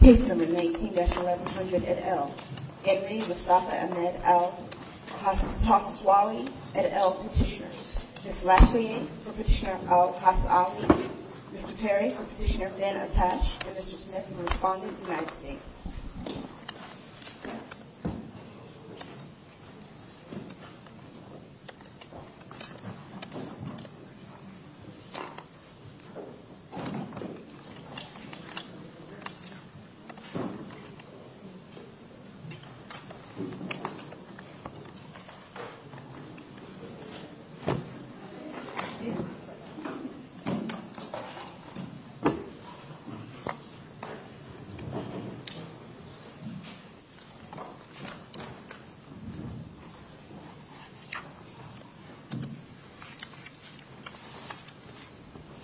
Page number 19-1100 at L. Edwin Mustafa Ahmed Al Hawsawi, at L. Petitioner. Ms. Lashley, for Petitioner Al Hawsawi. Mr. Perry, for Petitioner Ben Apache. And Mr. Smith, for Respondent, United States.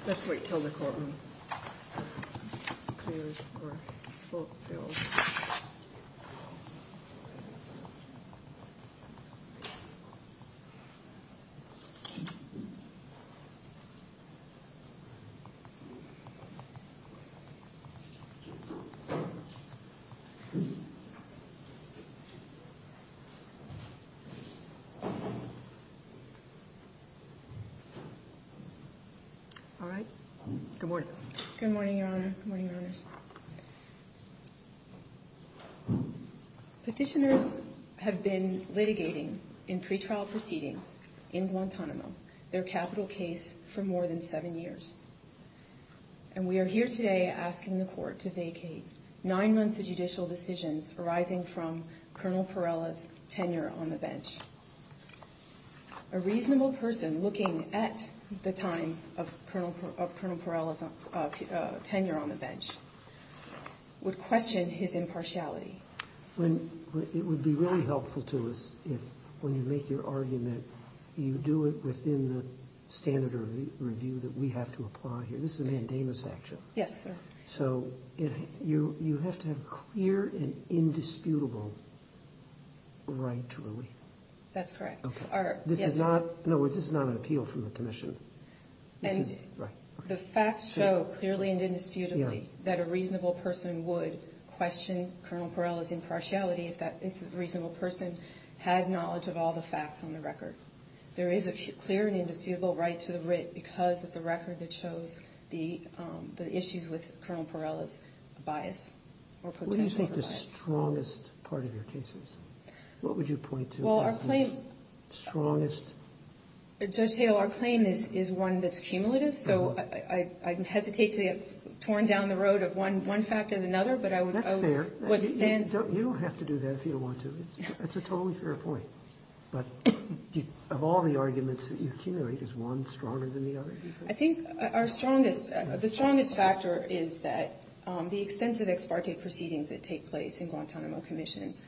Let's wait until the courtroom. All right. Good morning. Good morning, Your Honor. Good morning, Your Honors. Petitioners have been litigating in pretrial proceedings in Guantanamo, their capital case, for more than seven years. And we are here today asking the court to vacate nine months of judicial decisions arising from Colonel Perella's tenure on the bench. A reasonable person looking at the time of Colonel Perella's tenure on the bench would question his impartiality. It would be really helpful to us if, when you make your argument, you do it within the standard of review that we have to apply here. This is a mandamus action. Yes, sir. So you have to have clear and indisputable right to relief. That's correct. This is not an appeal from the commission. And the facts show clearly and indisputably that a reasonable person would question Colonel Perella's impartiality if that reasonable person had knowledge of all the facts on the record. There is a clear and indisputable right to the writ because of the record that shows the issues with Colonel Perella's bias or potential bias. What do you think the strongest part of your case is? What would you point to as the strongest? Judge Hale, our claim is one that's cumulative. So I hesitate to get torn down the road of one fact as another. That's fair. You don't have to do that if you don't want to. That's a totally fair point. But of all the arguments that you accumulate, is one stronger than the other? I think our strongest, the strongest factor is that the extensive ex parte proceedings that take place in Guantanamo commissions.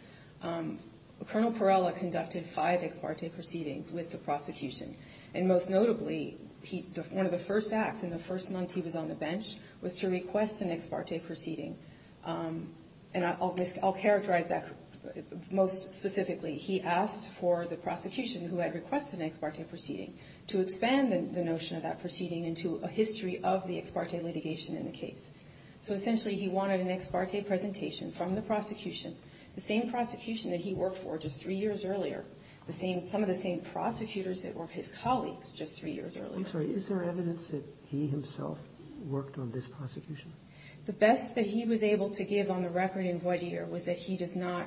Colonel Perella conducted five ex parte proceedings with the prosecution. And most notably, one of the first acts in the first month he was on the bench was to request an ex parte proceeding. And I'll characterize that most specifically. He asked for the prosecution who had requested an ex parte proceeding to expand the notion of that proceeding into a history of the ex parte litigation in the case. So essentially he wanted an ex parte presentation from the prosecution. The same prosecution that he worked for just three years earlier, some of the same prosecutors that were his colleagues just three years earlier. I'm sorry. Is there evidence that he himself worked on this prosecution? The best that he was able to give on the record in voir dire was that he does not,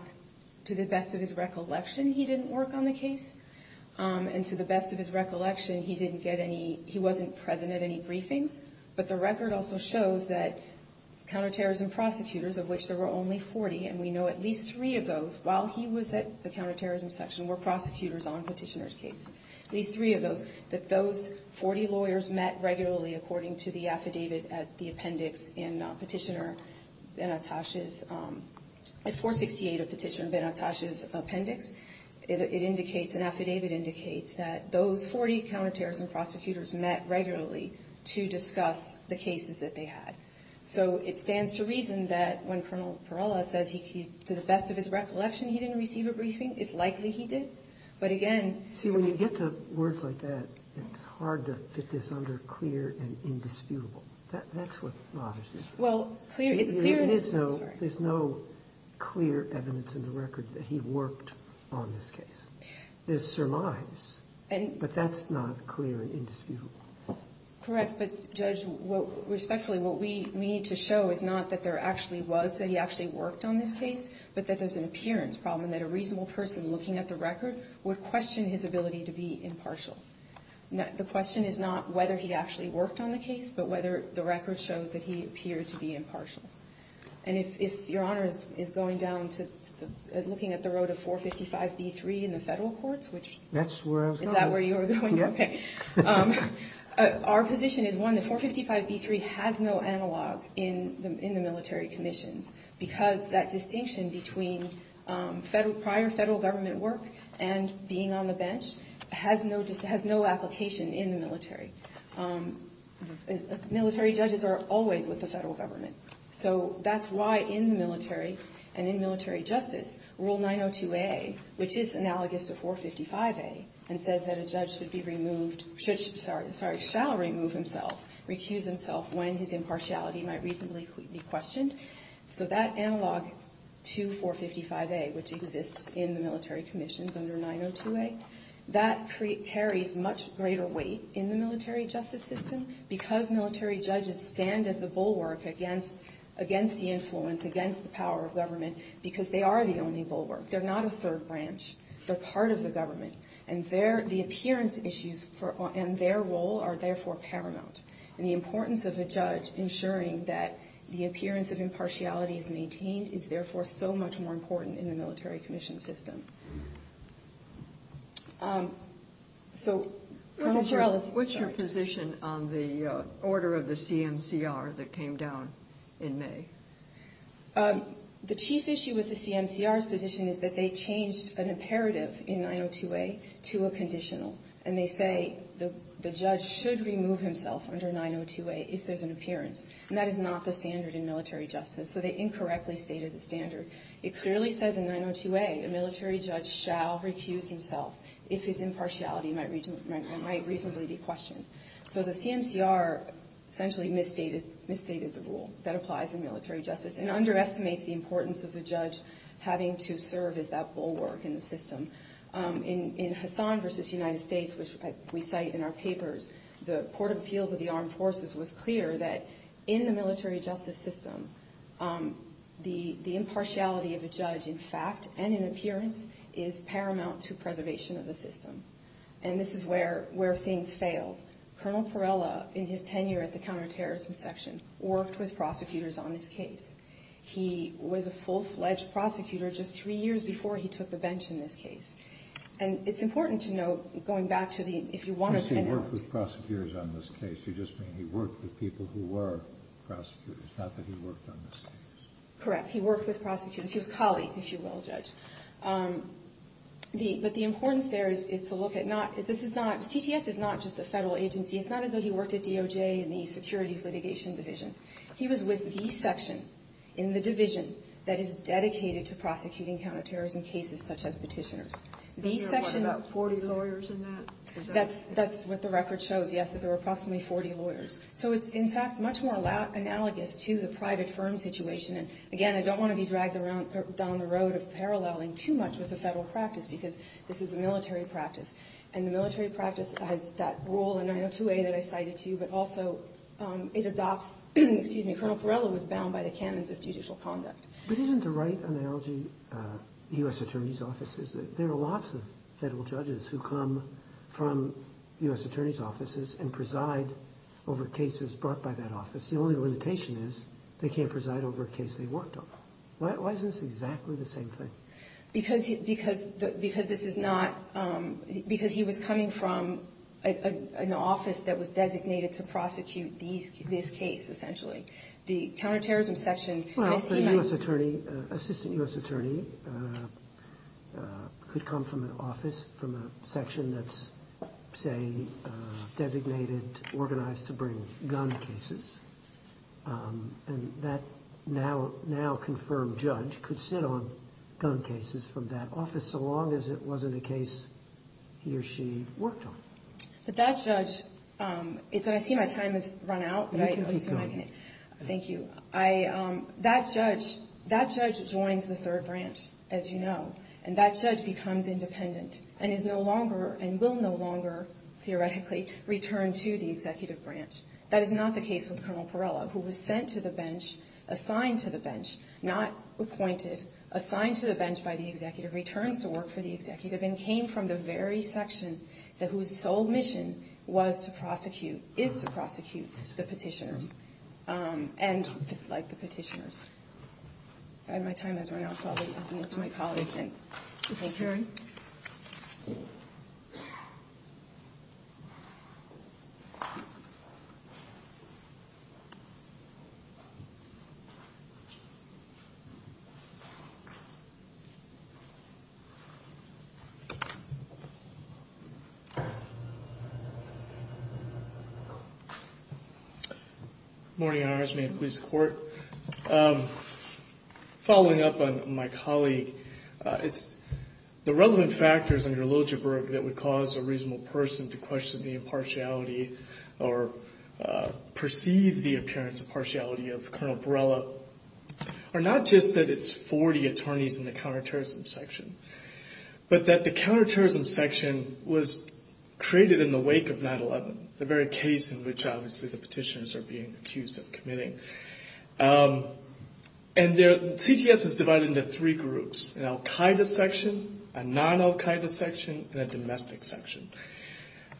to the best of his recollection, he didn't work on the case. And to the best of his recollection, he didn't get any, he wasn't present at any briefings. But the record also shows that counterterrorism prosecutors, of which there were only 40, and we know at least three of those while he was at the counterterrorism section were prosecutors on Petitioner's case, at least three of those, that those 40 lawyers met regularly according to the affidavit at the appendix in Petitioner Benatash's, at 468 of Petitioner Benatash's appendix. It indicates, an affidavit indicates that those 40 counterterrorism prosecutors met regularly to discuss the cases that they had. So it stands to reason that when Colonel Perella says to the best of his recollection he didn't receive a briefing, it's likely he did. But again... See, when you get to words like that, it's hard to fit this under clear and indisputable. That's what... Well, it's clear... There's no clear evidence in the record that he worked on this case. There's surmise, but that's not clear and indisputable. Correct. But, Judge, respectfully, what we need to show is not that there actually was, that he actually worked on this case, but that there's an appearance problem, and that a reasonable person looking at the record would question his ability to be impartial. The question is not whether he actually worked on the case, but whether the record shows that he appeared to be impartial. And if Your Honor is going down to looking at the road of 455B3 in the federal courts, which... That's where I was going. Is that where you were going? Yeah. Okay. Our position is, one, that 455B3 has no analog in the military commissions because that distinction between prior federal government work and being on the bench has no application in the military. Military judges are always with the federal government. So that's why in the military, and in military justice, Rule 902A, which is analogous to 455A, and says that a judge should be removed... Sorry, shall remove himself, recuse himself when his impartiality might reasonably be questioned. So that analog to 455A, which exists in the military commissions under 902A, that carries much greater weight in the military justice system, because military judges stand as the bulwark against the influence, against the power of government, because they are the only bulwark. They're not a third branch. They're part of the government, and the appearance issues and their role are therefore paramount. And the importance of a judge ensuring that the appearance of impartiality is maintained is therefore so much more important in the military commission system. So... What's your position on the order of the CMCR that came down in May? The chief issue with the CMCR's position is that they changed an imperative in 902A to a conditional, and they say the judge should remove himself under 902A if there's an appearance. And that is not the standard in military justice, so they incorrectly stated the standard. It clearly says in 902A, a military judge shall recuse himself if his impartiality might reasonably be questioned. So the CMCR essentially misstated the rule that applies in military justice and underestimates the importance of the judge having to serve as that bulwark in the system. In Hassan v. United States, which we cite in our papers, the Court of Appeals of the Armed Forces was clear that in the military justice system, the impartiality of a judge in fact and in appearance is paramount to preservation of the system. And this is where things failed. Colonel Perella, in his tenure at the counterterrorism section, worked with prosecutors on this case. He was a full-fledged prosecutor just three years before he took the bench in this case. And it's important to note, going back to the – if you want to – He worked with prosecutors on this case. You're just saying he worked with people who were prosecutors, not that he worked on this case. Correct. He worked with prosecutors. He was colleagues, if you will, Judge. But the importance there is to look at not – this is not – CTS is not just a federal agency. It's not as though he worked at DOJ and the Securities Litigation Division. He was with the section in the division that is dedicated to prosecuting counterterrorism cases such as petitioners. The section – About 40 lawyers in that? That's what the record shows, yes, that there were approximately 40 lawyers. So it's, in fact, much more analogous to the private firm situation. And, again, I don't want to be dragged down the road of paralleling too much with the federal practice because this is a military practice. And the military practice has that rule in 902A that I cited to you, but also it adopts – excuse me – Colonel Perella was bound by the canons of judicial conduct. But isn't the right analogy U.S. attorney's offices? There are lots of federal judges who come from U.S. attorney's offices and preside over cases brought by that office. The only limitation is they can't preside over a case they worked on. Why isn't this exactly the same thing? Because this is not – because he was coming from an office that was designated to prosecute this case, essentially. The counterterrorism section – Well, the U.S. attorney – assistant U.S. attorney could come from an office from a section that's, say, designated, organized to bring gun cases. And that now-confirmed judge could sit on gun cases from that office so long as it wasn't a case he or she worked on. But that judge – I see my time has run out. You can keep going. Thank you. That judge joins the third branch, as you know. And that judge becomes independent and is no longer – and will no longer, theoretically, return to the executive branch. That is not the case with Colonel Perella, who was sent to the bench, assigned to the bench, not appointed, assigned to the bench by the executive, returns to work for the executive, and came from the very section whose sole mission was to prosecute – is to prosecute the petitioners. And – like, the petitioners. My time has run out, so I'll leave it to my colleague to take care of it. Good morning, Your Honors. May it please the Court. Following up on my colleague, it's – the relevant factors under Liljeburg that would cause a reasonable person to question the impartiality or perceive the appearance of partiality of Colonel Perella are not just that it's 40 attorneys in the counterterrorism section, but that the counterterrorism section was created in the wake of 9-11, the very case in which, obviously, the petitioners are being accused of committing. And there – CTS is divided into three groups, an al-Qaeda section, a non-al-Qaeda section, and a domestic section.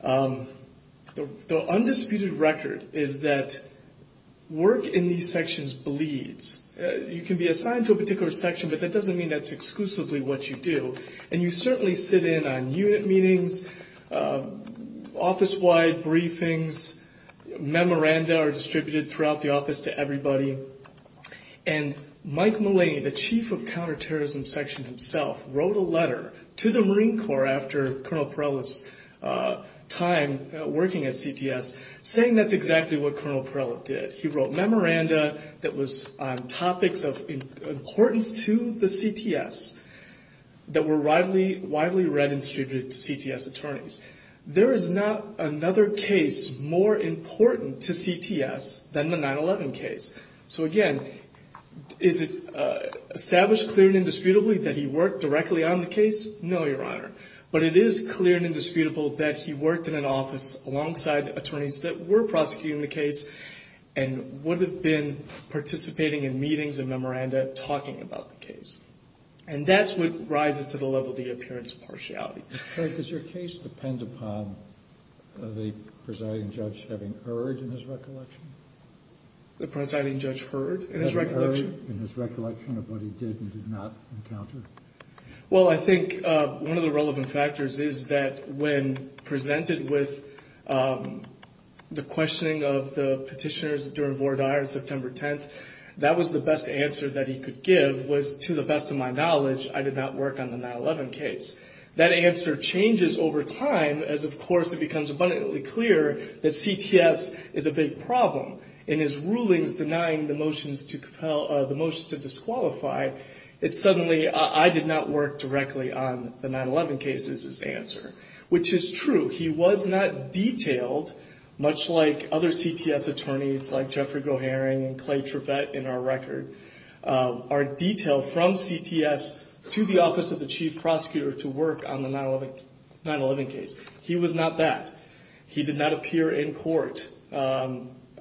The undisputed record is that work in these sections bleeds. You can be assigned to a particular section, but that doesn't mean that's exclusively what you do. And you certainly sit in on unit meetings, office-wide briefings. Memoranda are distributed throughout the office to everybody. And Mike Mullaney, the chief of counterterrorism section himself, wrote a letter to the Marine Corps after Colonel Perella's time working at CTS, saying that's exactly what Colonel Perella did. He wrote memoranda that was on topics of importance to the CTS that were widely read and distributed to CTS attorneys. There is not another case more important to CTS than the 9-11 case. So, again, is it established clearly and indisputably that he worked directly on the case? No, Your Honor. But it is clear and indisputable that he worked in an office alongside attorneys that were prosecuting the case and would have been participating in meetings and memoranda talking about the case. And that's what rises to the level of the appearance partiality. But does your case depend upon the presiding judge having heard in his recollection? The presiding judge heard in his recollection? Having heard in his recollection of what he did and did not encounter? Well, I think one of the relevant factors is that when presented with the questioning of the petitioners during Vore Dyer on September 10th, that was the best answer that he could give was, to the best of my knowledge, I did not work on the 9-11 case. That answer changes over time as, of course, it becomes abundantly clear that CTS is a big problem. In his rulings denying the motions to disqualify, it's suddenly I did not work directly on the 9-11 case is his answer, which is true. He was not detailed, much like other CTS attorneys like Jeffrey Goharing and Clay Trevett in our record, are detailed from CTS to the Office of the Chief Prosecutor to work on the 9-11 case. He was not that.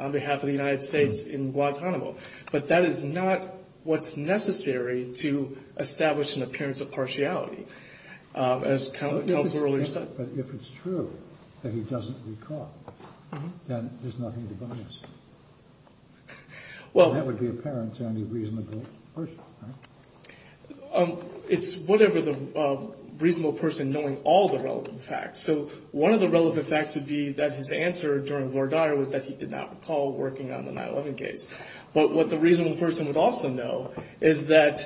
on behalf of the United States in Guantanamo. But that is not what's necessary to establish an appearance of partiality, as counsel earlier said. But if it's true that he doesn't recall, then there's nothing to balance. Well. That would be apparent to any reasonable person, right? It's whatever the reasonable person knowing all the relevant facts. So one of the relevant facts would be that his answer during Lord Dyer was that he did not recall working on the 9-11 case. But what the reasonable person would also know is that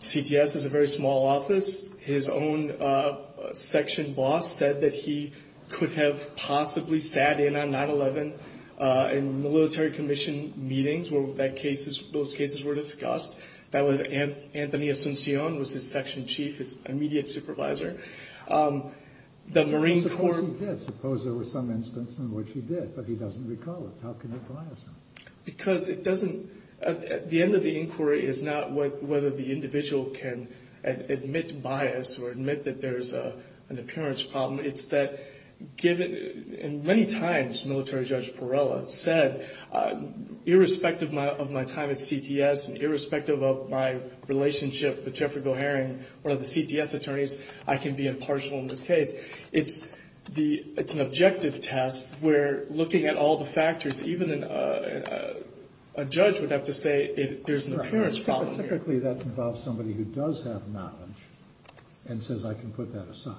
CTS is a very small office. His own section boss said that he could have possibly sat in on 9-11 in military commission meetings where those cases were discussed. That was Anthony Asuncion, was his section chief, his immediate supervisor. The Marine Corps. Suppose he did. Suppose there was some instance in which he did, but he doesn't recall it. How can you bias him? Because it doesn't. The end of the inquiry is not whether the individual can admit bias or admit that there's an appearance problem. It's that given, and many times Military Judge Perella said, irrespective of my time at CTS, irrespective of my relationship with Jeffrey Goharing, one of the CTS attorneys, I can be impartial in this case. It's an objective test where looking at all the factors, even a judge would have to say there's an appearance problem. Typically that involves somebody who does have knowledge and says I can put that aside.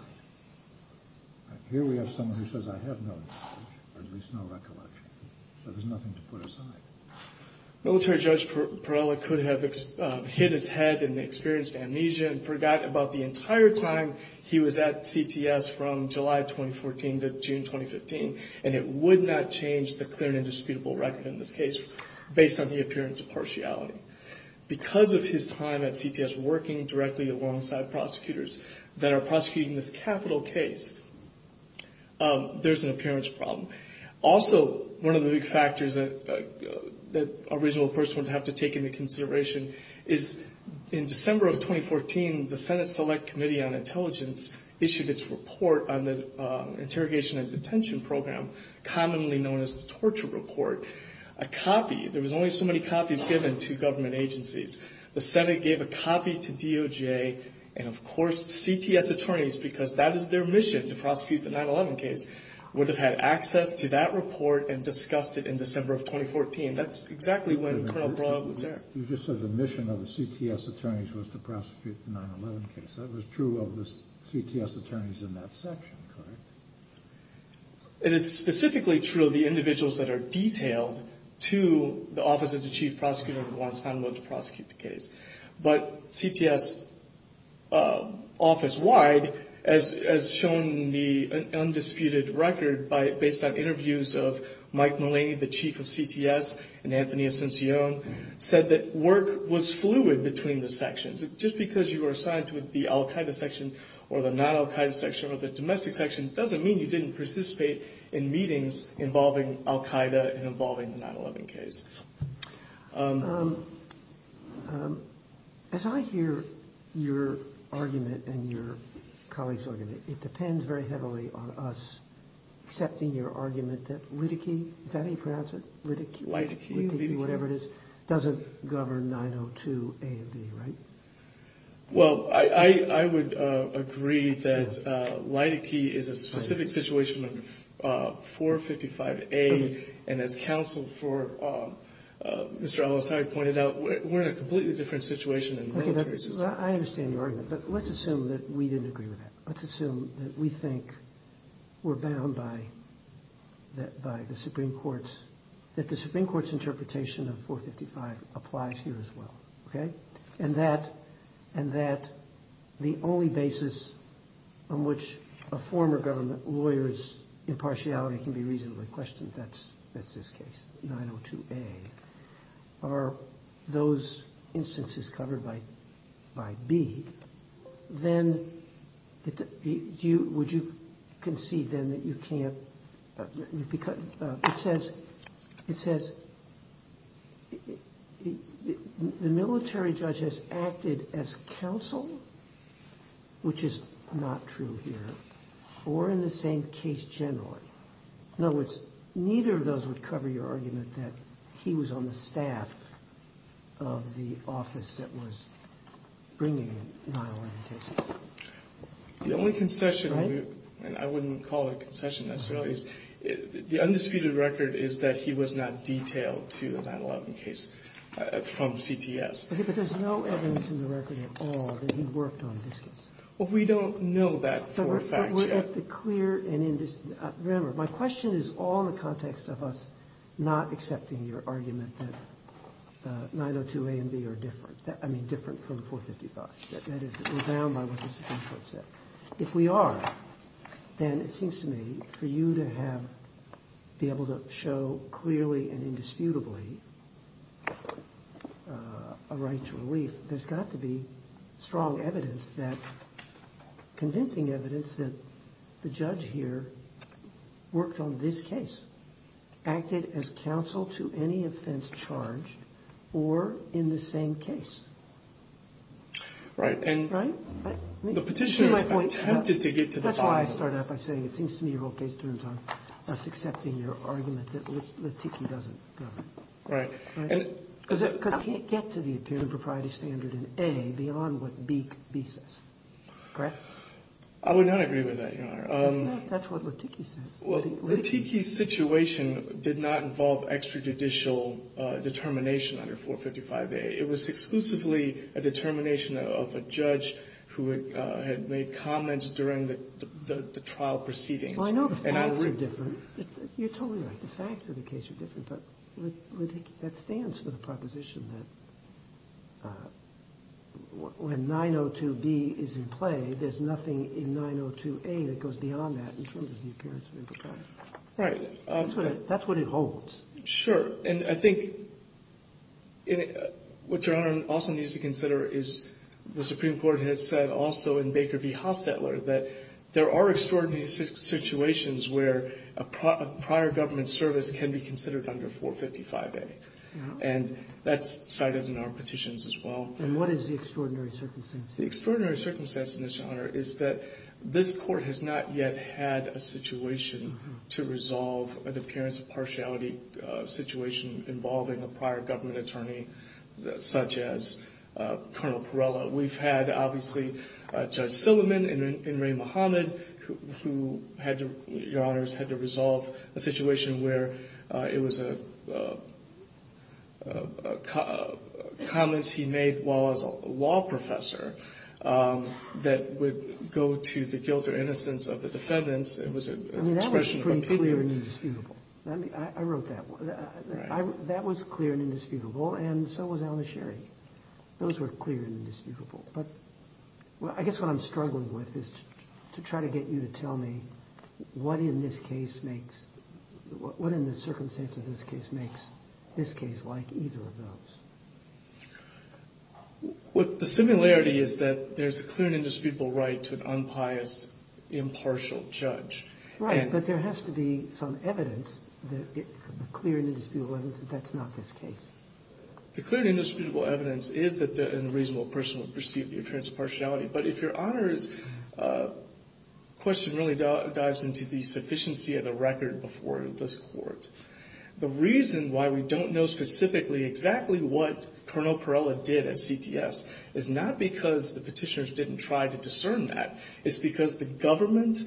Here we have someone who says I have no knowledge or at least no recollection. So there's nothing to put aside. Military Judge Perella could have hit his head and experienced amnesia and forgot about the entire time he was at CTS from July 2014 to June 2015. And it would not change the clear and indisputable record in this case based on the appearance of partiality. Because of his time at CTS working directly alongside prosecutors that are prosecuting this capital case, there's an appearance problem. Also, one of the big factors that a reasonable person would have to take into consideration is in December of 2014, the Senate Select Committee on Intelligence issued its report on the Interrogation and Detention Program, commonly known as the Torture Report. A copy, there was only so many copies given to government agencies. The Senate gave a copy to DOJ and of course the CTS attorneys, because that is their mission to prosecute the 9-11 case, would have had access to that report and discussed it in December of 2014. That's exactly when Colonel Perella was there. You just said the mission of the CTS attorneys was to prosecute the 9-11 case. That was true of the CTS attorneys in that section, correct? It is specifically true of the individuals that are detailed to the Office of the Chief Prosecutor who wants to prosecute the case. But CTS office-wide, as shown in the undisputed record based on interviews of Mike Mullaney, the chief of CTS, and Anthony Ascension, said that work was fluid between the sections. Just because you were assigned to the Al-Qaeda section or the non-Al-Qaeda section or the domestic section doesn't mean you didn't participate in meetings involving Al-Qaeda and involving the 9-11 case. As I hear your argument and your colleague's argument, it depends very heavily on us accepting your argument that Lydicke, is that how you pronounce it? Lydicke? Lydicke, whatever it is, doesn't govern 902A and B, right? Well, I would agree that Lydicke is a specific situation of 455A. And as counsel for Mr. Ellis, I pointed out, we're in a completely different situation in the military system. I understand your argument, but let's assume that we didn't agree with that. Let's assume that we think we're bound by the Supreme Court's, that the Supreme Court's interpretation of 455 applies here as well. Okay? And that the only basis on which a former government lawyer's impartiality can be reasonably questioned, that's this case, 902A. Are those instances covered by B, then would you concede then that you can't, it says, the military judge has acted as counsel, which is not true here, or in the same case generally. In other words, neither of those would cover your argument that he was on the staff of the office that was bringing in 9-11 cases. The only concession, and I wouldn't call it a concession necessarily, is the undisputed record is that he was not detailed to the 9-11 case from CTS. Okay, but there's no evidence in the record at all that he worked on this case. Well, we don't know that for a fact yet. Remember, my question is all in the context of us not accepting your argument that 902A and B are different. I mean, different from 455. That is, we're bound by what the Supreme Court said. If we are, then it seems to me for you to have, be able to show clearly and indisputably a right to relief, there's got to be strong evidence that, convincing evidence that the judge here worked on this case, acted as counsel to any offense charged, or in the same case. Right. Right? The Petitioner attempted to get to the bottom of this. That's why I started out by saying it seems to me your whole case turns on us accepting your argument that Letickie doesn't cover it. Right. Because I can't get to the appearance of propriety standard in A beyond what B says. Correct? I would not agree with that, Your Honor. That's what Letickie says. Letickie's situation did not involve extrajudicial determination under 455A. It was exclusively a determination of a judge who had made comments during the trial proceedings. Well, I know the facts are different. You're totally right. The facts of the case are different. But Letickie, that stands for the proposition that when 902B is in play, there's nothing in 902A that goes beyond that in terms of the appearance of impropriety. Right. That's what it holds. Sure. And I think what Your Honor also needs to consider is the Supreme Court has said also in Baker v. Hostetler that there are extraordinary situations where a prior government service can be considered under 455A. And that's cited in our petitions as well. And what is the extraordinary circumstance? The extraordinary circumstance in this, Your Honor, is that this court has not yet had a situation to resolve an appearance of partiality situation involving a prior government attorney such as Colonel Perella. We've had, obviously, Judge Silliman and Ray Muhammad who had to, Your Honors, had to resolve a situation where it was comments he made while as a law professor that would go to the guilt or innocence of the defendants. I mean, that was pretty clear and indisputable. I wrote that. Right. That was clear and indisputable. And so was Alan Sherry. Those were clear and indisputable. But I guess what I'm struggling with is to try to get you to tell me what in this case makes, what in the circumstance of this case makes this case like either of those. The similarity is that there's a clear and indisputable right to an unpious, impartial judge. Right. But there has to be some evidence, clear and indisputable evidence that that's not this case. The clear and indisputable evidence is that a reasonable person would perceive the appearance of partiality. But if Your Honors, the question really dives into the sufficiency of the record before this court. The reason why we don't know specifically exactly what Colonel Perella did at CTS is not because the petitioners didn't try to discern that. It's because the government,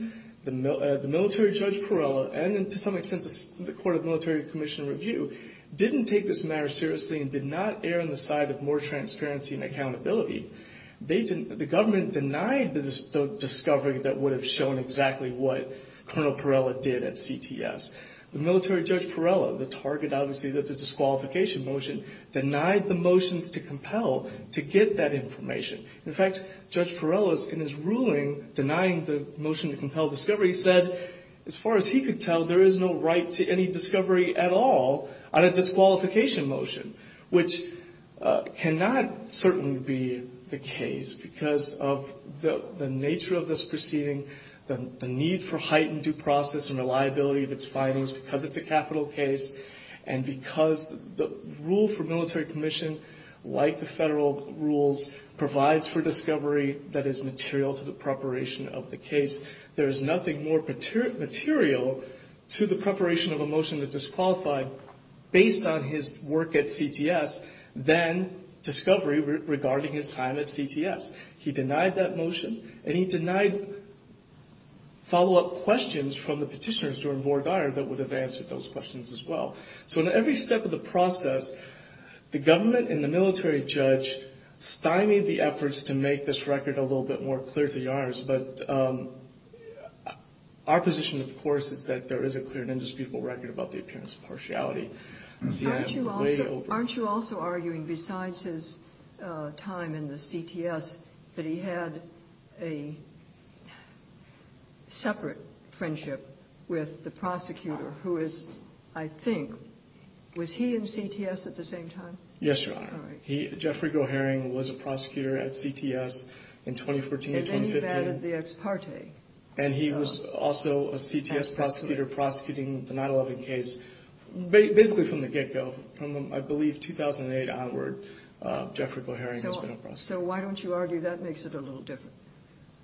the military Judge Perella, and to some extent the Court of Military Commission Review, didn't take this matter seriously and did not err on the side of more transparency and accountability. The government denied the discovery that would have shown exactly what Colonel Perella did at CTS. The military Judge Perella, the target obviously of the disqualification motion, denied the motions to compel to get that information. In fact, Judge Perella, in his ruling denying the motion to compel discovery, said as far as he could tell, there is no right to any discovery at all on a disqualification motion. Which cannot certainly be the case because of the nature of this proceeding, the need for heightened due process and reliability of its findings because it's a capital case. And because the rule for military commission, like the federal rules, provides for discovery that is material to the preparation of the case. There is nothing more material to the preparation of a motion that disqualified based on his work at CTS than discovery regarding his time at CTS. He denied that motion, and he denied follow-up questions from the petitioners to our board of honor that would have answered those questions as well. So in every step of the process, the government and the military judge stymied the efforts to make this record a little bit more clear to the honors. But our position, of course, is that there is a clear and indisputable record about the appearance of partiality. Aren't you also arguing, besides his time in the CTS, that he had a separate friendship with the prosecutor who is, I think, was he in CTS at the same time? Yes, Your Honor. Jeffrey Goehring was a prosecutor at CTS in 2014 and 2015. And then he vetted the ex parte. And he was also a CTS prosecutor prosecuting the 9-11 case, basically from the get-go. From, I believe, 2008 onward, Jeffrey Goehring has been a prosecutor. So why don't you argue that makes it a little different?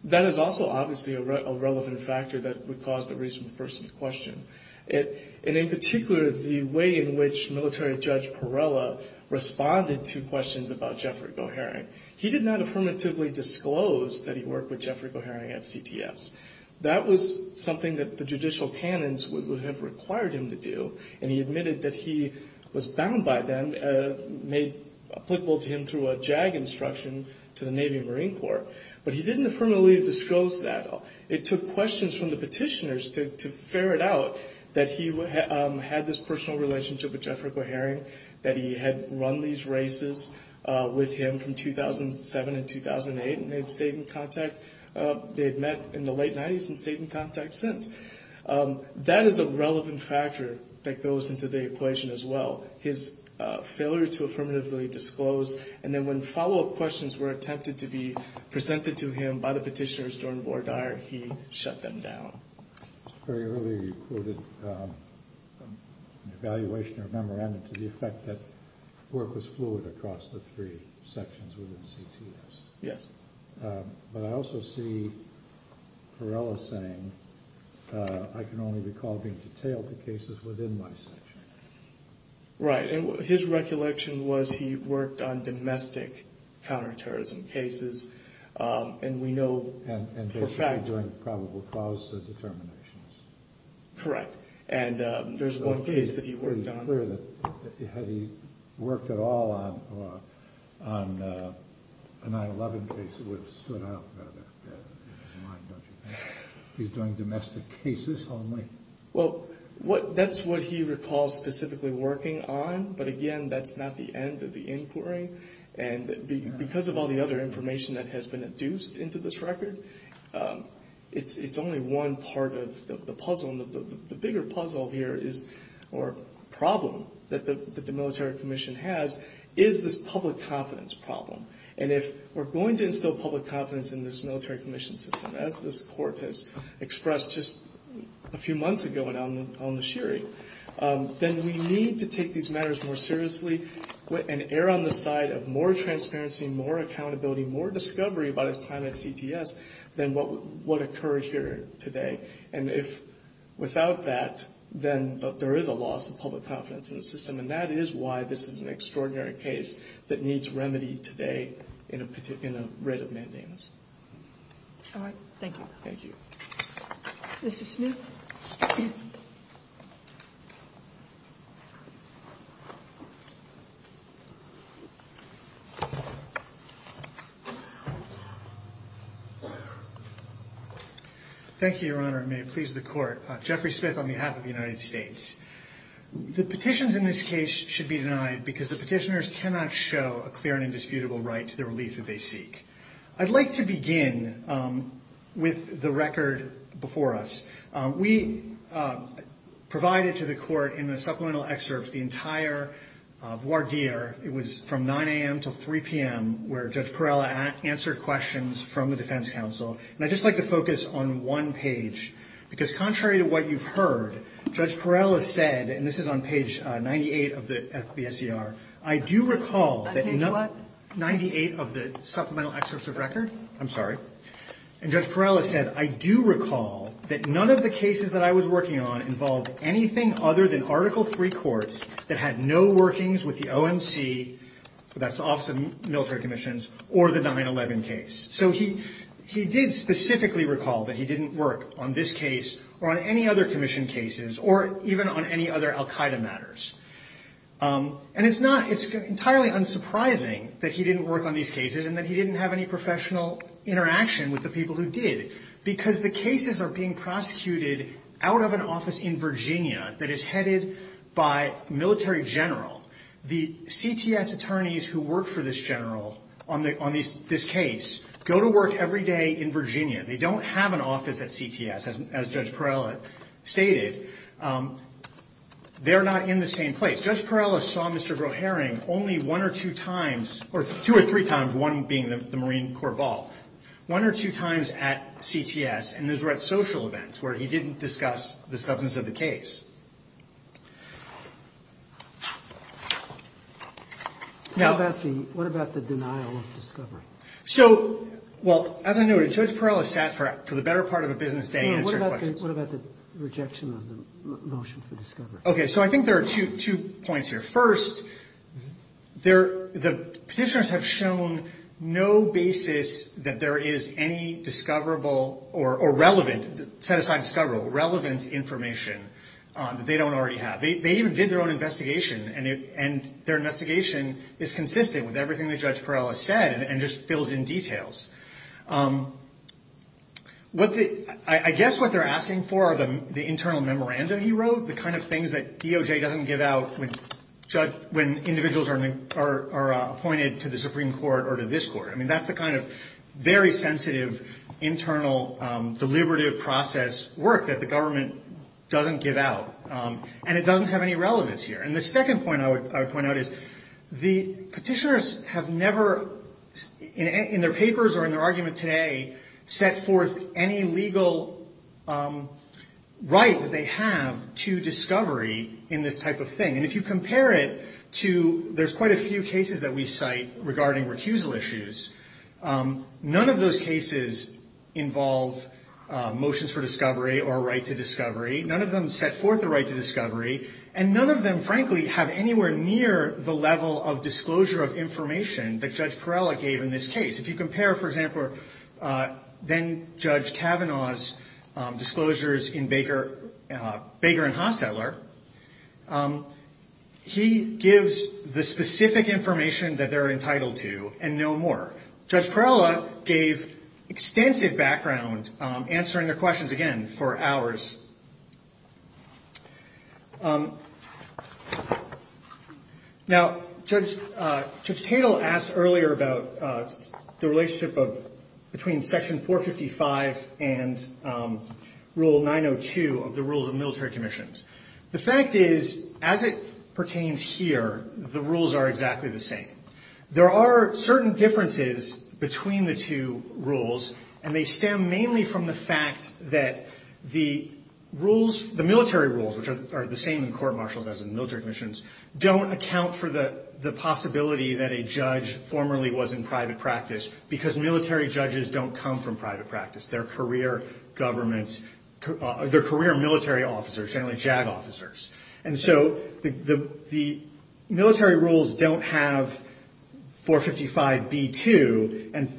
That is also, obviously, a relevant factor that would cause the reason for some question. And in particular, the way in which military judge Perella responded to questions about Jeffrey Goehring, he did not affirmatively disclose that he worked with Jeffrey Goehring at CTS. That was something that the judicial canons would have required him to do. And he admitted that he was bound by them, made applicable to him through a JAG instruction to the Navy and Marine Corps. But he didn't affirmatively disclose that. It took questions from the petitioners to ferret out that he had this personal relationship with Jeffrey Goehring, that he had run these races with him from 2007 and 2008. And they had stayed in contact. They had met in the late 90s and stayed in contact since. That is a relevant factor that goes into the equation as well, his failure to affirmatively disclose. And then when follow-up questions were attempted to be presented to him by the petitioners during war time, he shut them down. Very early, you quoted an evaluation or a memorandum to the effect that work was fluid across the three sections within CTS. Yes. But I also see Perella saying, I can only recall being detailed to cases within my section. Right. And his recollection was he worked on domestic counterterrorism cases. And we know for a fact- And they should be doing probable cause determinations. Correct. And there's one case that he worked on- It's pretty clear that had he worked at all on a 9-11 case, it would have stood out better. That's in his mind, don't you think? He's doing domestic cases only. Well, that's what he recalls specifically working on. But again, that's not the end of the inquiry. And because of all the other information that has been induced into this record, it's only one part of the puzzle. And the bigger puzzle here is, or problem, that the military commission has is this public confidence problem. And if we're going to instill public confidence in this military commission system, as this court has expressed just a few months ago on the sherry, then we need to take these matters more seriously and err on the side of more transparency, more accountability, more discovery about his time at CTS than what occurred here today. And if without that, then there is a loss of public confidence in the system. And that is why this is an extraordinary case that needs remedy today in a rate of mandamus. All right. Thank you. Thank you. Mr. Smith. Thank you. Thank you, Your Honor. May it please the court. Jeffrey Smith on behalf of the United States. The petitions in this case should be denied because the petitioners cannot show a clear and indisputable right to the relief that they seek. I'd like to begin with the record before us. We provided to the court in the supplemental excerpts the entire voir dire. It was from 9 a.m. to 3 p.m. where Judge Perella answered questions from the defense counsel. And I'd just like to focus on one page, because contrary to what you've heard, Judge Perella said, and this is on page 98 of the SCR, I do recall that in 98 of the supplemental excerpts of record. I'm sorry. And Judge Perella said, I do recall that none of the cases that I was working on involved anything other than Article III courts that had no workings with the OMC, that's the Office of Military Commissions, or the 9-11 case. So he did specifically recall that he didn't work on this case or on any other commission cases or even on any other al Qaeda matters. And it's not entirely unsurprising that he didn't work on these cases and that he didn't have any professional interaction with the people who did, because the cases are being prosecuted out of an office in Virginia that is headed by a military general. The CTS attorneys who work for this general on this case go to work every day in Virginia. They don't have an office at CTS, as Judge Perella stated. They're not in the same place. Judge Perella saw Mr. Groharing only one or two times, or two or three times, one being the Marine Corps ball. One or two times at CTS, and those were at social events where he didn't discuss the substance of the case. What about the denial of discovery? So, well, as I noted, Judge Perella sat for the better part of a business day answering questions. What about the rejection of the motion for discovery? Okay, so I think there are two points here. First, the petitioners have shown no basis that there is any discoverable or relevant, set aside discoverable, relevant information that they don't already have. They even did their own investigation, and their investigation is consistent with everything that Judge Perella said and just fills in details. I guess what they're asking for are the internal memoranda he wrote, the kind of things that DOJ doesn't give out when individuals are appointed to the Supreme Court or to this court. I mean, that's the kind of very sensitive, internal, deliberative process work that the government doesn't give out, and it doesn't have any relevance here. And the second point I would point out is the petitioners have never, in their papers or in their argument today, set forth any legal right that they have to discovery in this type of thing. And if you compare it to, there's quite a few cases that we cite regarding recusal issues. None of those cases involve motions for discovery or a right to discovery. None of them set forth a right to discovery, and none of them, frankly, have anywhere near the level of disclosure of information that Judge Perella gave in this case. If you compare, for example, then-Judge Kavanaugh's disclosures in Baker and Hostetler, he gives the specific information that they're entitled to and no more. Judge Perella gave extensive background, answering the questions, again, for hours. Now, Judge Tatel asked earlier about the relationship between Section 455 and Rule 902 of the Rules of Military Commissions. The fact is, as it pertains here, the rules are exactly the same. There are certain differences between the two rules, and they stem mainly from the fact that the rules, the military rules, which are the same in court-martials as in military commissions, don't account for the possibility that a judge formerly was in private practice because military judges don't come from private practice. They're career government, they're career military officers, generally JAG officers. And so the military rules don't have 455b2, and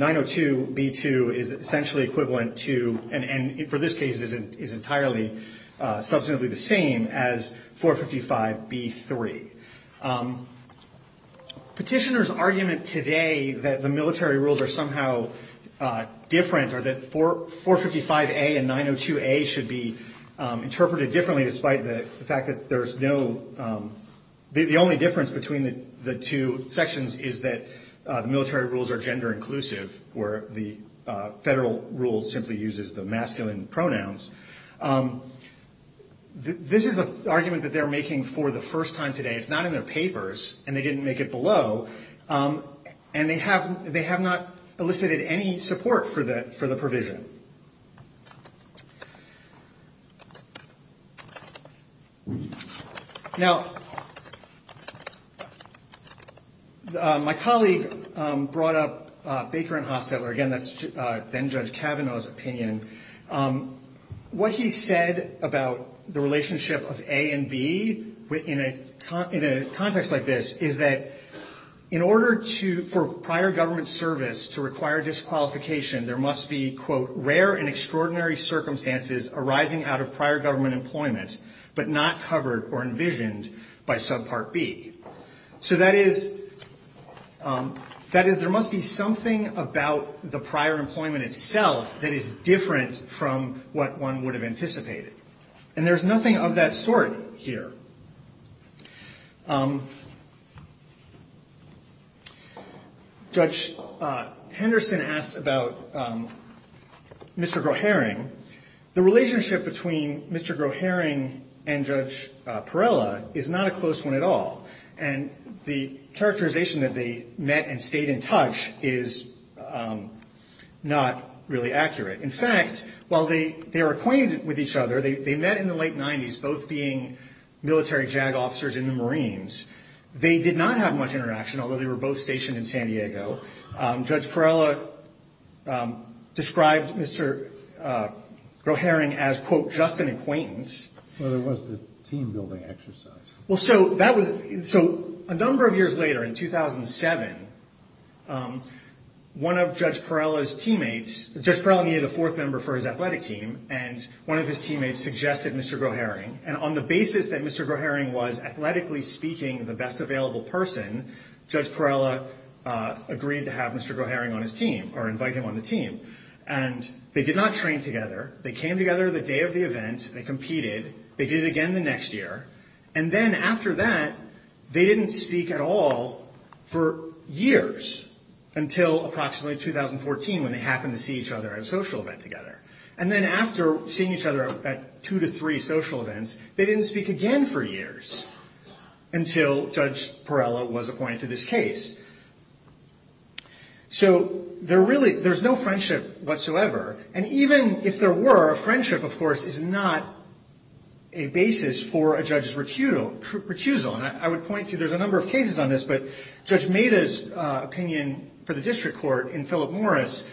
902b2 is essentially equivalent to, and for this case is entirely, substantively the same as 455b3. Petitioners' argument today that the military rules are somehow different, or that 455a and 902a should be interpreted differently, despite the fact that there's no, the only difference between the two sections is that the military rules are gender-inclusive, where the federal rules simply uses the masculine pronouns. This is an argument that they're making for the first time today. It's not in their papers, and they didn't make it below, and they have not elicited any support for the provision. Now, my colleague brought up Baker and Hostetler. Again, that's then-Judge Kavanaugh's opinion. What he said about the relationship of A and B in a context like this is that in order to, for prior government service to require disqualification, there must be, quote, there must be something about the prior employment itself that is different from what one would have anticipated, and there's nothing of that sort here. Judge Henderson asked about Mr. Groharing. The relationship between Mr. Groharing and Judge Perella is not a close one at all, and the characterization that they met and stayed in touch is not really accurate. In fact, while they are acquainted with each other, they met in the late 90s, both being military JAG officers in the Marines. They did not have much interaction, although they were both stationed in San Diego. Judge Perella described Mr. Groharing as, quote, just an acquaintance. Well, there was the team-building exercise. So a number of years later, in 2007, one of Judge Perella's teammates, Judge Perella needed a fourth member for his athletic team, and one of his teammates suggested Mr. Groharing. And on the basis that Mr. Groharing was, athletically speaking, the best available person, Judge Perella agreed to have Mr. Groharing on his team or invite him on the team. And they did not train together. They came together the day of the event. They competed. They did it again the next year. And then after that, they didn't speak at all for years until approximately 2014 when they happened to see each other at a social event together. And then after seeing each other at two to three social events, they didn't speak again for years until Judge Perella was appointed to this case. So there's no friendship whatsoever. And even if there were, friendship, of course, is not a basis for a judge's recusal. And I would point to there's a number of cases on this, but Judge Maida's opinion for the district court in Philip Morris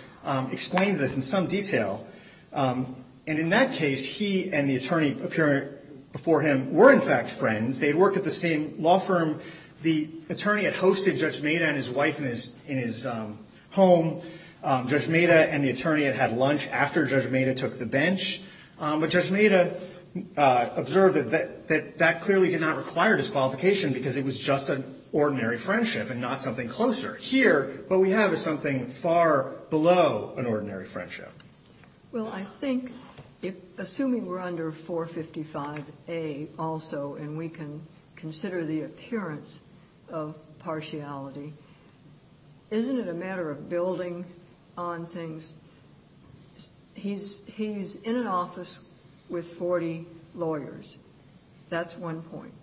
explains this in some detail. And in that case, he and the attorney appearing before him were, in fact, friends. They had worked at the same law firm. The attorney had hosted Judge Maida and his wife in his home. Judge Maida and the attorney had had lunch after Judge Maida took the bench. But Judge Maida observed that that clearly did not require disqualification because it was just an ordinary friendship and not something closer. Here, what we have is something far below an ordinary friendship. Well, I think, assuming we're under 455A also and we can consider the appearance of partiality, isn't it a matter of building on things? He's in an office with 40 lawyers. That's one point.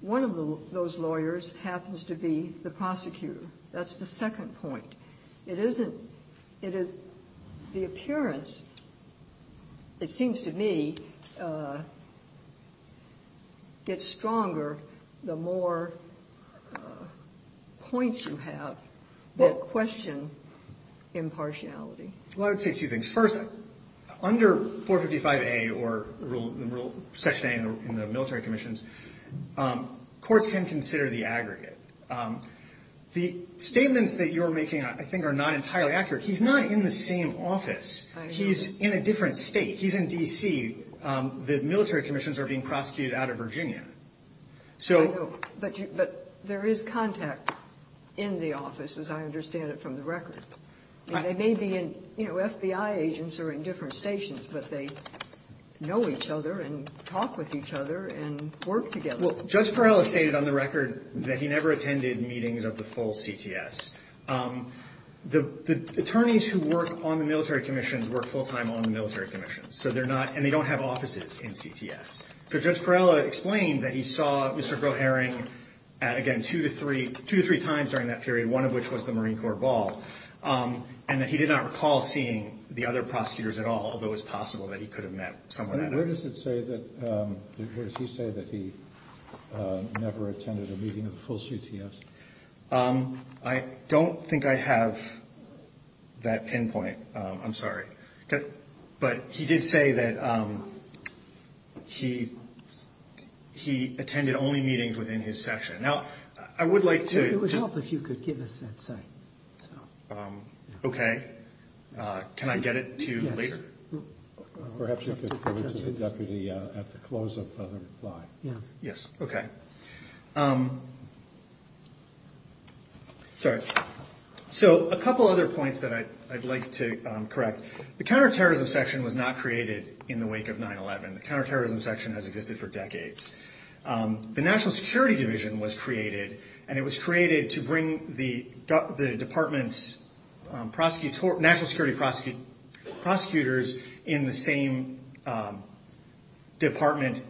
One of those lawyers happens to be the prosecutor. That's the second point. It isn't. It is the appearance, it seems to me, gets stronger the more points you have that question impartiality. Well, I would say two things. First, under 455A or Rule Section A in the military commissions, courts can consider the aggregate. The statements that you're making, I think, are not entirely accurate. He's not in the same office. I know. He's in a different state. He's in D.C. The military commissions are being prosecuted out of Virginia. I know. But there is contact in the office, as I understand it from the record. They may be in, you know, FBI agents are in different stations, but they know each other and talk with each other and work together. Well, Judge Perala stated on the record that he never attended meetings of the full CTS. The attorneys who work on the military commissions work full-time on the military commissions, and they don't have offices in CTS. So Judge Perala explained that he saw Mr. Goharing, again, two to three times during that period, one of which was the Marine Corps ball, and that he did not recall seeing the other prosecutors at all, although it's possible that he could have met someone at all. Where does it say that he never attended a meeting of the full CTS? I don't think I have that pinpoint. I'm sorry. But he did say that he attended only meetings within his section. Now, I would like to – It would help if you could give us that site. Okay. Can I get it to you later? Perhaps you could forward to the deputy at the close of the reply. Yes. Okay. Sorry. So a couple other points that I'd like to correct. The counterterrorism section was not created in the wake of 9-11. The counterterrorism section has existed for decades. The National Security Division was created, and it was created to bring the department's national security prosecutors in the same division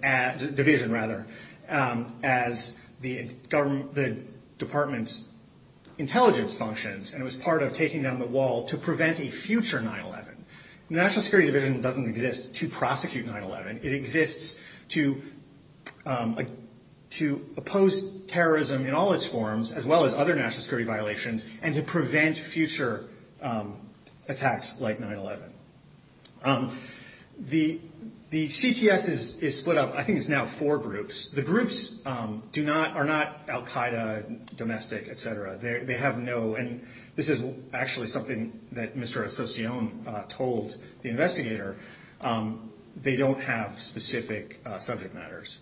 as the department's intelligence functions, and it was part of taking down the wall to prevent a future 9-11. The National Security Division doesn't exist to prosecute 9-11. It exists to oppose terrorism in all its forms, as well as other national security violations, and to prevent future attacks like 9-11. The CTS is split up. I think it's now four groups. The groups are not al-Qaeda, domestic, et cetera. They have no – and this is actually something that Mr. Estacion told the investigator. They don't have specific subject matters.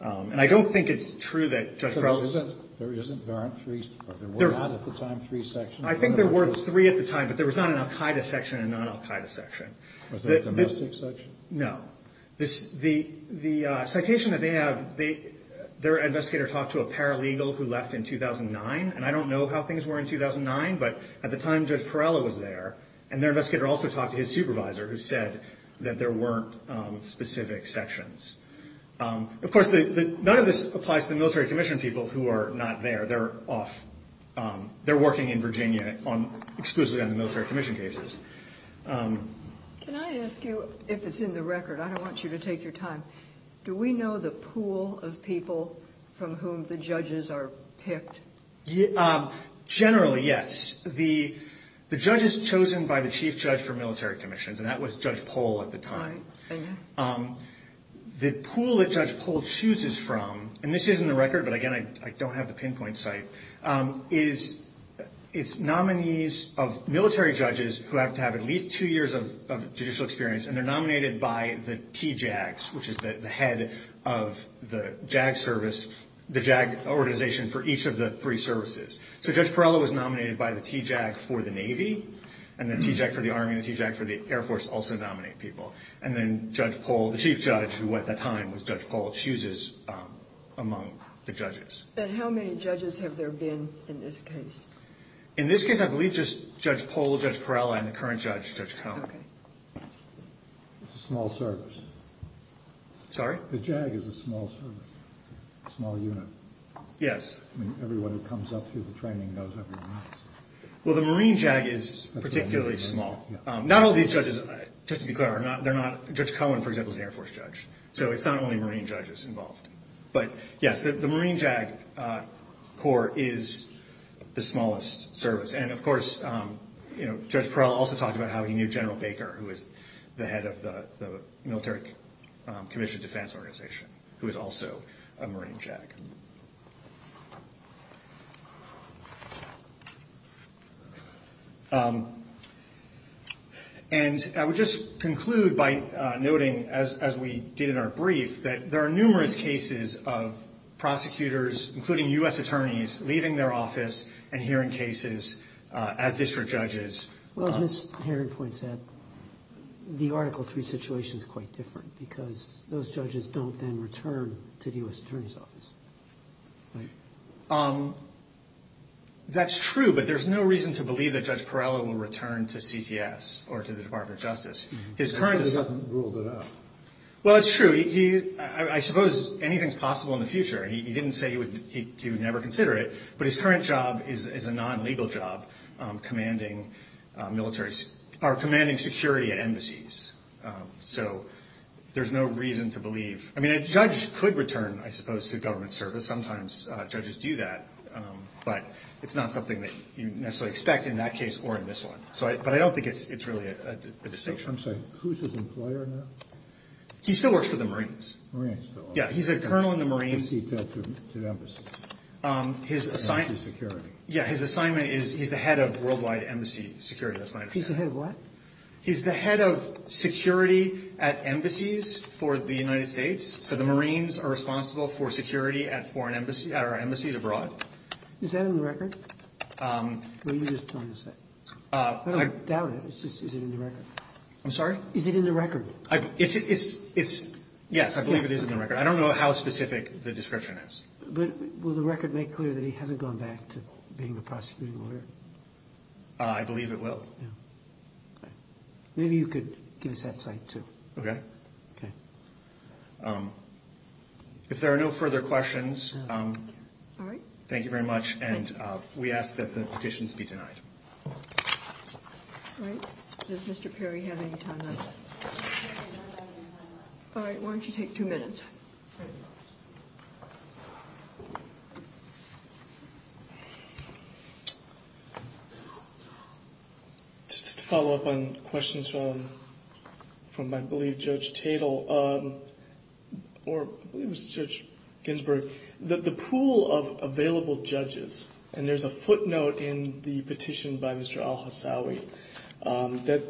And I don't think it's true that Judge Crowley's – There isn't? There aren't three – there were not at the time three sections? I think there were three at the time, but there was not an al-Qaeda section and non-al-Qaeda section. Was there a domestic section? No. The citation that they have, their investigator talked to a paralegal who left in 2009, and I don't know how things were in 2009, but at the time Judge Perella was there, and their investigator also talked to his supervisor who said that there weren't specific sections. Of course, none of this applies to the military commission people who are not there. They're off – they're working in Virginia exclusively on the military commission cases. Can I ask you if it's in the record? I don't want you to take your time. Do we know the pool of people from whom the judges are picked? Generally, yes. The judge is chosen by the chief judge for military commissions, and that was Judge Pohl at the time. The pool that Judge Pohl chooses from – and this is in the record, but, again, I don't have the pinpoint site – it's nominees of military judges who have to have at least two years of judicial experience, and they're nominated by the TJACs, which is the head of the JAG service, the JAG organization for each of the three services. So Judge Perella was nominated by the TJAC for the Navy, and the TJAC for the Army, and the TJAC for the Air Force also nominate people. And then Judge Pohl, the chief judge who at the time was Judge Pohl, chooses among the judges. And how many judges have there been in this case? In this case, I believe just Judge Pohl, Judge Perella, and the current judge, Judge Cohen. Okay. It's a small service. Sorry? The JAG is a small service, a small unit. Yes. I mean, everyone who comes up through the training knows everyone else. Well, the Marine JAG is particularly small. Not all these judges, just to be clear, are not – Judge Cohen, for example, is an Air Force judge. So it's not only Marine judges involved. But, yes, the Marine JAG Corps is the smallest service. And, of course, Judge Perella also talked about how he knew General Baker, who was the head of the Military Commission Defense Organization, who was also a Marine JAG. Okay. And I would just conclude by noting, as we did in our brief, that there are numerous cases of prosecutors, including U.S. attorneys, leaving their office and hearing cases as district judges. Well, as Ms. Herring points out, the Article III situation is quite different because those judges don't then return to the U.S. attorney's office, right? That's true, but there's no reason to believe that Judge Perella will return to CTS or to the Department of Justice. His current – Because he hasn't ruled it out. Well, it's true. I suppose anything is possible in the future. He didn't say he would never consider it, but his current job is a non-legal job commanding military – or commanding security at embassies. So there's no reason to believe – I mean, a judge could return, I suppose, to government service. Sometimes judges do that, but it's not something that you necessarily expect in that case or in this one. But I don't think it's really a distinction. I'm sorry. Who's his employer now? He still works for the Marines. Marines still work for the Marines. Yeah, he's a colonel in the Marines. What does he do to embassies? His assignment – Embassy security. Yeah, his assignment is he's the head of worldwide embassy security. That's my understanding. He's the head of what? He's the head of security at embassies for the United States. So the Marines are responsible for security at foreign – at our embassies abroad. Is that in the record? What are you just trying to say? I don't doubt it. It's just – is it in the record? I'm sorry? Is it in the record? It's – yes, I believe it is in the record. I don't know how specific the description is. But will the record make clear that he hasn't gone back to being a prosecuting lawyer? I believe it will. Maybe you could give us that slide, too. Okay. Okay. If there are no further questions, thank you very much. And we ask that the petitions be denied. All right. Does Mr. Perry have any time left? All right, why don't you take two minutes? Just to follow up on questions from, I believe, Judge Tatel, or I believe it was Judge Ginsburg, the pool of available judges – and there's a footnote in the petition by Mr. Al-Hassawi that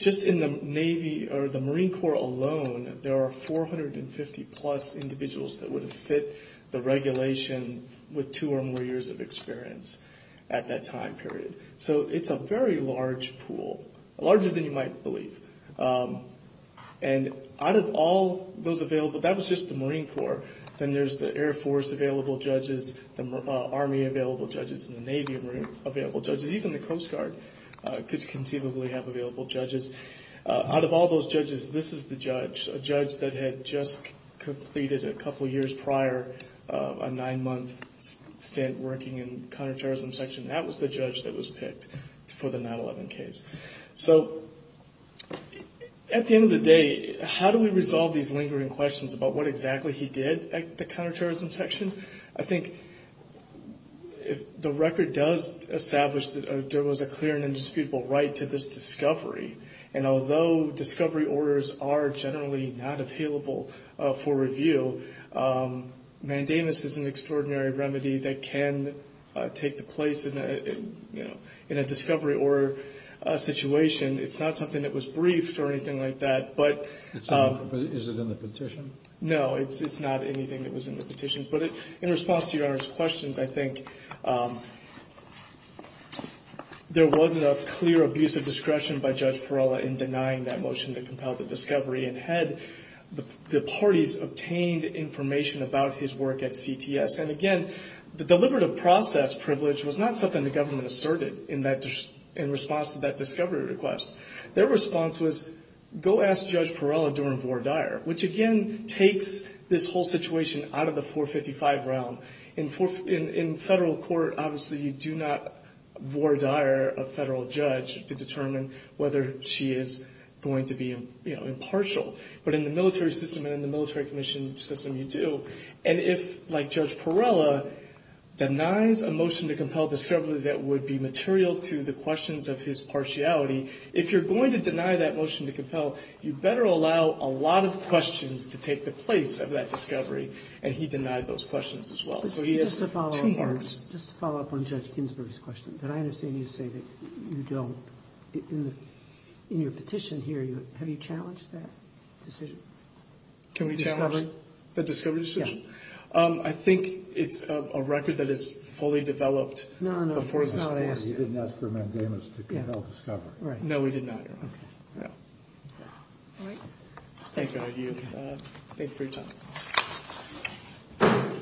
just in the Navy or the Marine Corps alone, there are 450-plus individuals that would have fit the regulation with two or more years of experience at that time period. So it's a very large pool, larger than you might believe. And out of all those available – that was just the Marine Corps. Then there's the Air Force-available judges, the Army-available judges, and the Navy-available judges. Even the Coast Guard could conceivably have available judges. Out of all those judges, this is the judge, a judge that had just completed a couple years prior a nine-month stint working in the counterterrorism section. That was the judge that was picked for the 9-11 case. So at the end of the day, how do we resolve these lingering questions about what exactly he did at the counterterrorism section? I think the record does establish that there was a clear and indisputable right to this discovery. And although discovery orders are generally not available for review, mandamus is an extraordinary remedy that can take the place in a discovery order situation. It's not something that was briefed or anything like that. Is it in the petition? No, it's not anything that was in the petitions. But in response to Your Honor's questions, I think there wasn't a clear abuse of discretion by Judge Perala in denying that motion to compel the discovery. And had the parties obtained information about his work at CTS? And again, the deliberative process privilege was not something the government asserted in response to that discovery request. Their response was, go ask Judge Perala during voir dire, which again takes this whole situation out of the 455 realm. In federal court, obviously you do not voir dire a federal judge to determine whether she is going to be impartial. But in the military system and in the military commission system, you do. And if, like Judge Perala, denies a motion to compel discovery that would be material to the questions of his partiality, if you're going to deny that motion to compel, you better allow a lot of questions to take the place of that discovery. And he denied those questions as well. So he has two marks. Just to follow up on Judge Ginsburg's question, did I understand you to say that you don't, in your petition here, have you challenged that decision? Can we challenge the discovery decision? I think it's a record that is fully developed before the discovery. No, no, that's not what I asked you. You didn't ask for mandamus to compel discovery. No, we did not. Okay. All right. Thank you. Thank you for your time.